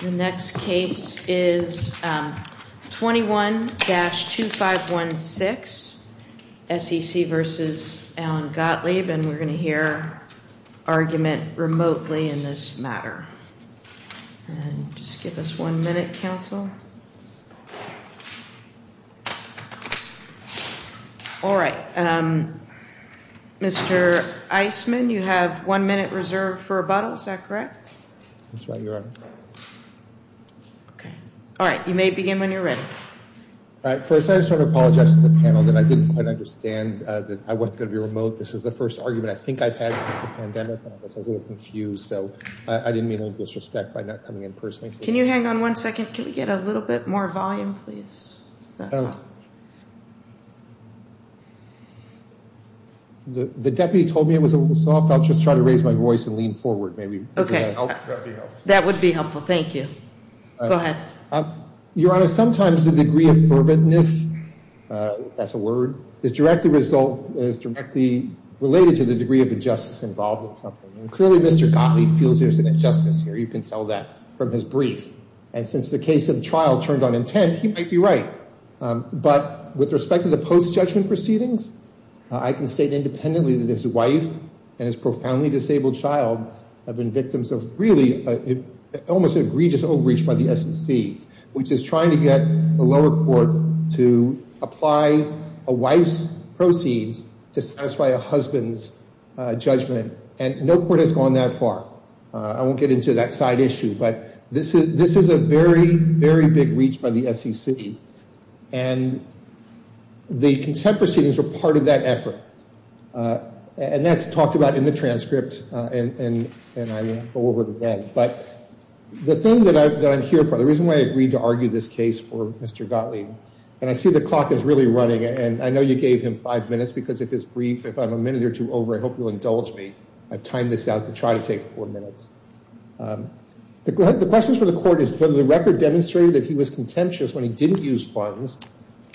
The next case is 21-2516 SEC v. Allen Gottlieb and we're going to hear argument remotely in this matter. Just give us one minute, counsel. All right. Mr. Eisman, you have one minute reserved for rebuttal. Is that correct? That's right, Your Honor. Okay. All right. You may begin when you're ready. All right. First, I just want to apologize to the panel that I didn't quite understand that I wasn't going to be remote. This is the first argument I think I've had since the pandemic and I guess I was a little confused. So I didn't mean any disrespect by not coming in personally. Can you hang on one second? Can we get a little bit more volume, please? The deputy told me it was a little soft. I'll just try to raise my voice and lean forward, maybe. Okay. That would be helpful. Thank you. Go ahead. Your Honor, sometimes the degree of ferventness, that's a word, is directly related to the degree of injustice involved in something. Clearly, Mr. Gottlieb feels there's an injustice here. You can tell that from his brief. And since the case of the trial turned on intent, he might be right. But with respect to the post-judgment proceedings, I can state independently that his wife and his profoundly disabled child have been victims of really almost egregious overreach by the SEC, which is trying to get the lower court to apply a wife's proceeds to satisfy a husband's judgment. And no court has gone that far. I won't get into that side issue, but this is a very, very big reach by the SEC. And the contempt proceedings were part of that effort. And that's talked about in the transcript. And I'll go over it again. But the thing that I'm here for, the reason why I agreed to argue this case for Mr. Gottlieb, and I see the clock is really running, and I know you gave him five minutes, because if it's brief, if I'm a minute or two over, I hope you'll indulge me. I've timed this out to try to take four minutes. The questions for the court is whether the record demonstrated that he was contemptuous when he didn't use funds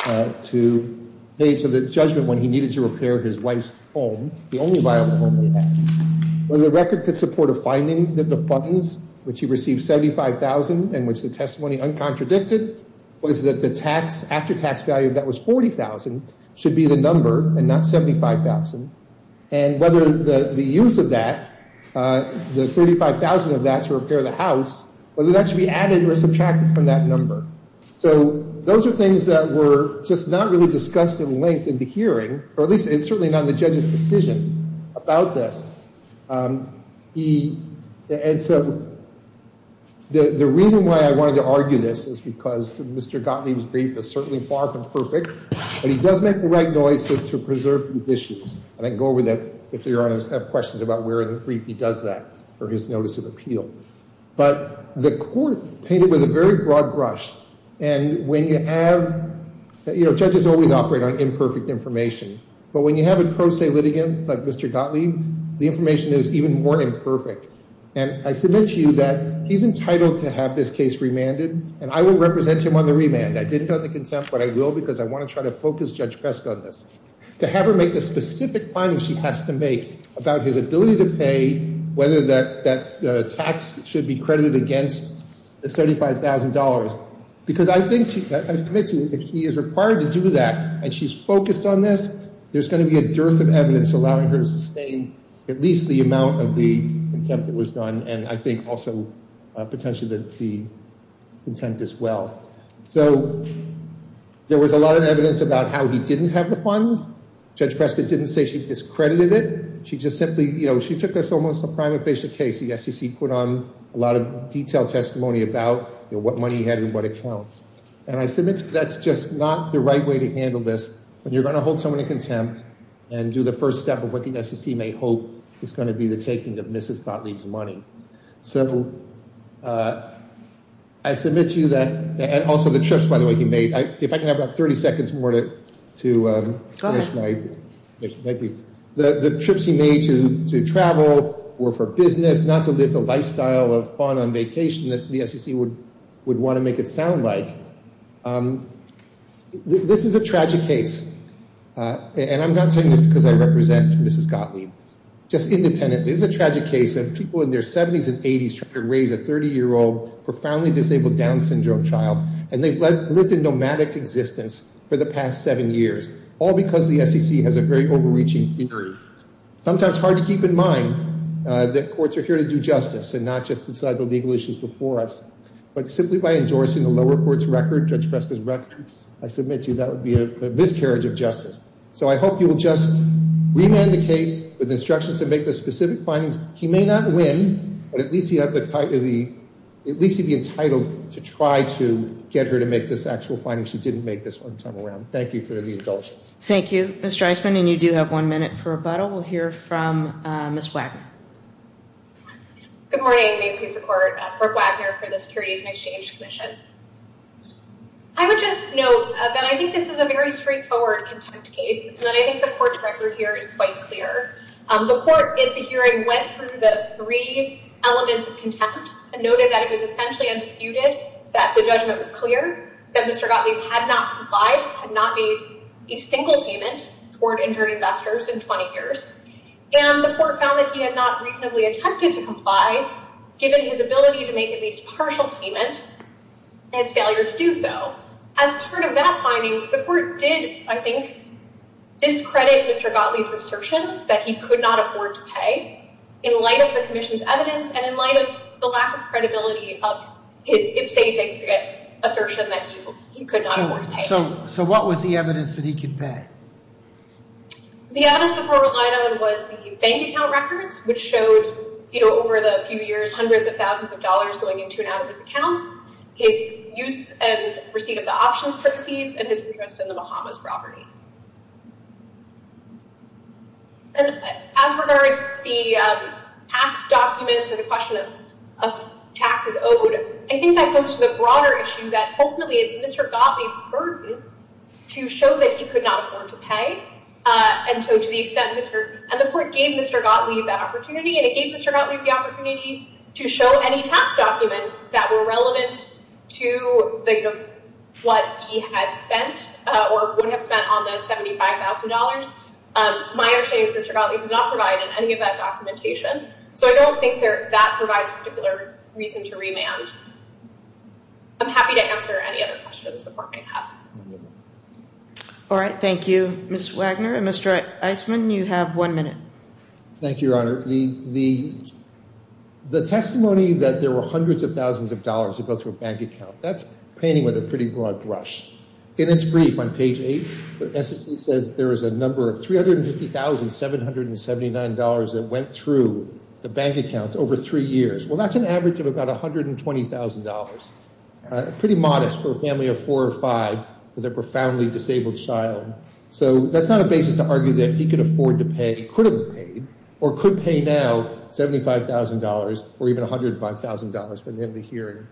to pay for the judgment when he needed to repair his wife's home, the only viable home they had. Whether the record could support a finding that the funds, which he received $75,000 and which the testimony uncontradicted, was that the tax, after-tax value of that was $40,000, should be the number and not $75,000. And whether the use of that, the $35,000 of that to repair the house, whether that should be added or subtracted from that number. So those are things that were just not really discussed in length in the hearing, or at least certainly not in the judge's decision about this. And so the reason why I wanted to argue this is because Mr. Gottlieb's brief is certainly far from perfect, but he does make the right noise to preserve these issues. And I can go over that if the Your Honor's have questions about where in the brief he But the court painted with a very broad brush. And when you have, you know, judges always operate on imperfect information. But when you have a pro se litigant like Mr. Gottlieb, the information is even more imperfect. And I submit to you that he's entitled to have this case remanded, and I will represent him on the remand. I didn't have the consent, but I will because I want to try to focus Judge Pesk on this. To have her make the specific findings she has to make about his ability to pay, whether that tax should be credited against the $75,000. Because I think, I submit to you, if he is required to do that, and she's focused on this, there's going to be a dearth of evidence allowing her to sustain at least the amount of the contempt that was done, and I think also potentially that the contempt as well. So there was a lot of evidence about how he didn't have the funds. Judge Prescott didn't say she discredited it. She just simply, you know, she took this almost a prima facie case. The SEC put on a lot of detailed testimony about what money he had and what accounts. And I submit that's just not the right way to handle this. When you're going to hold someone in contempt and do the first step of what the SEC may hope is going to be the taking of Mrs. Gottlieb's money. So I submit to you that, and also the trips by the way he made, if I can have about 30 seconds more to finish my, the trips he made to travel or for business, not to live the lifestyle of fun on vacation that the SEC would want to make it sound like. This is a tragic case. And I'm not saying this because I represent Mrs. Gottlieb. Just independently, this is a tragic case of people in their 70s and 80s trying to raise a 30-year-old profoundly disabled Down syndrome child. And they've lived a nomadic existence for the past seven years. All because the SEC has a very overreaching theory. Sometimes hard to keep in mind that courts are here to do justice and not just decide the legal issues before us. But simply by endorsing the lower court's record, Judge Prescott's record, I submit to you that would be a miscarriage of justice. So I hope you will just remand the case with instructions to make the specific findings. He may not win, but at least he'd be entitled to try to get her to make this actual finding. She didn't make this one time around. Thank you for the indulgence. Thank you, Mr. Eisman. And you do have one minute for rebuttal. We'll hear from Ms. Wagner. Good morning. Macy Secord for Wagner for the Securities and Exchange Commission. I would just note that I think this is a very straightforward contempt case. And I think the court's record here is quite clear. The court, in the hearing, went through the three elements of contempt and noted that it was essentially undisputed, that the judgment was clear, that Mr. Gottlieb had not complied, had not made a single payment toward injured investors in 20 years. And the court found that he had not reasonably attempted to comply, given his ability to make at least a partial payment, and his failure to do so. As part of that finding, the court did, I think, discredit Mr. Gottlieb's assertions that he could not afford to pay, in light of the Commission's evidence and in light of the lack of credibility of his ipsa dexia assertion that he could not afford to pay. So what was the evidence that he could pay? The evidence that we're relying on was the bank account records, which showed, you know, over the few years, hundreds of thousands of dollars going into and out of his accounts, his use and receipt of the options proceeds, and his interest in the Bahamas property. And as regards the tax documents and the question of taxes owed, I think that goes to the broader issue that, ultimately, it's Mr. Gottlieb's burden to show that he could not afford to pay. And so, to the extent Mr.... And the court gave Mr. Gottlieb that opportunity, and it gave Mr. Gottlieb the opportunity to show any tax documents that were relevant to what he had spent or would have spent on the $75,000, my understanding is Mr. Gottlieb was not provided in any of that documentation. So I don't think that provides a particular reason to remand. I'm happy to answer any other questions the court may have. All right, thank you. Ms. Wagner and Mr. Eisman, you have one minute. Thank you, Your Honor. The testimony that there were hundreds of thousands of dollars that go through a bank account, that's painting with a pretty broad brush. In its brief on page 8, it essentially says there is a number of $350,779 that went through the bank accounts over three years. Well, that's an average of about $120,000. Pretty modest for a family of four or five with a profoundly disabled child. So that's not a basis to argue that he could afford to pay, could have paid, or could pay now $75,000 or even $105,000 for the hearing.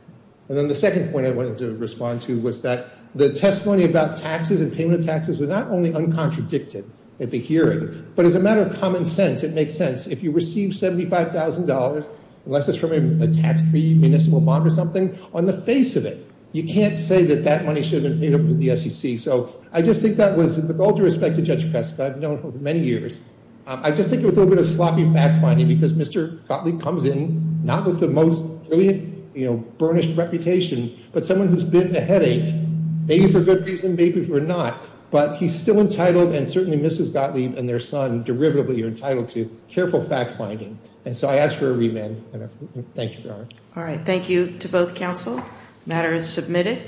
And then the second point I wanted to respond to was that the testimony about taxes and payment of taxes was not only uncontradicted at the hearing, but as a matter of common sense, it makes sense. If you receive $75,000, unless it's from a tax-free municipal bond or something, on the face of it, you can't say that that money should have been from the SEC. So I just think that was, with all due respect to Judge Peska, I've known her for many years. I just think it was a little bit of sloppy fact-finding because Mr. Gottlieb comes in, not with the most brilliant, burnished reputation, but someone who's been a headache, maybe for good reason, maybe for not. But he's still entitled, and certainly Mrs. Gottlieb and their son derivatively are entitled to, careful fact-finding. And so All right. Thank you to both counsel. Matter is submitted.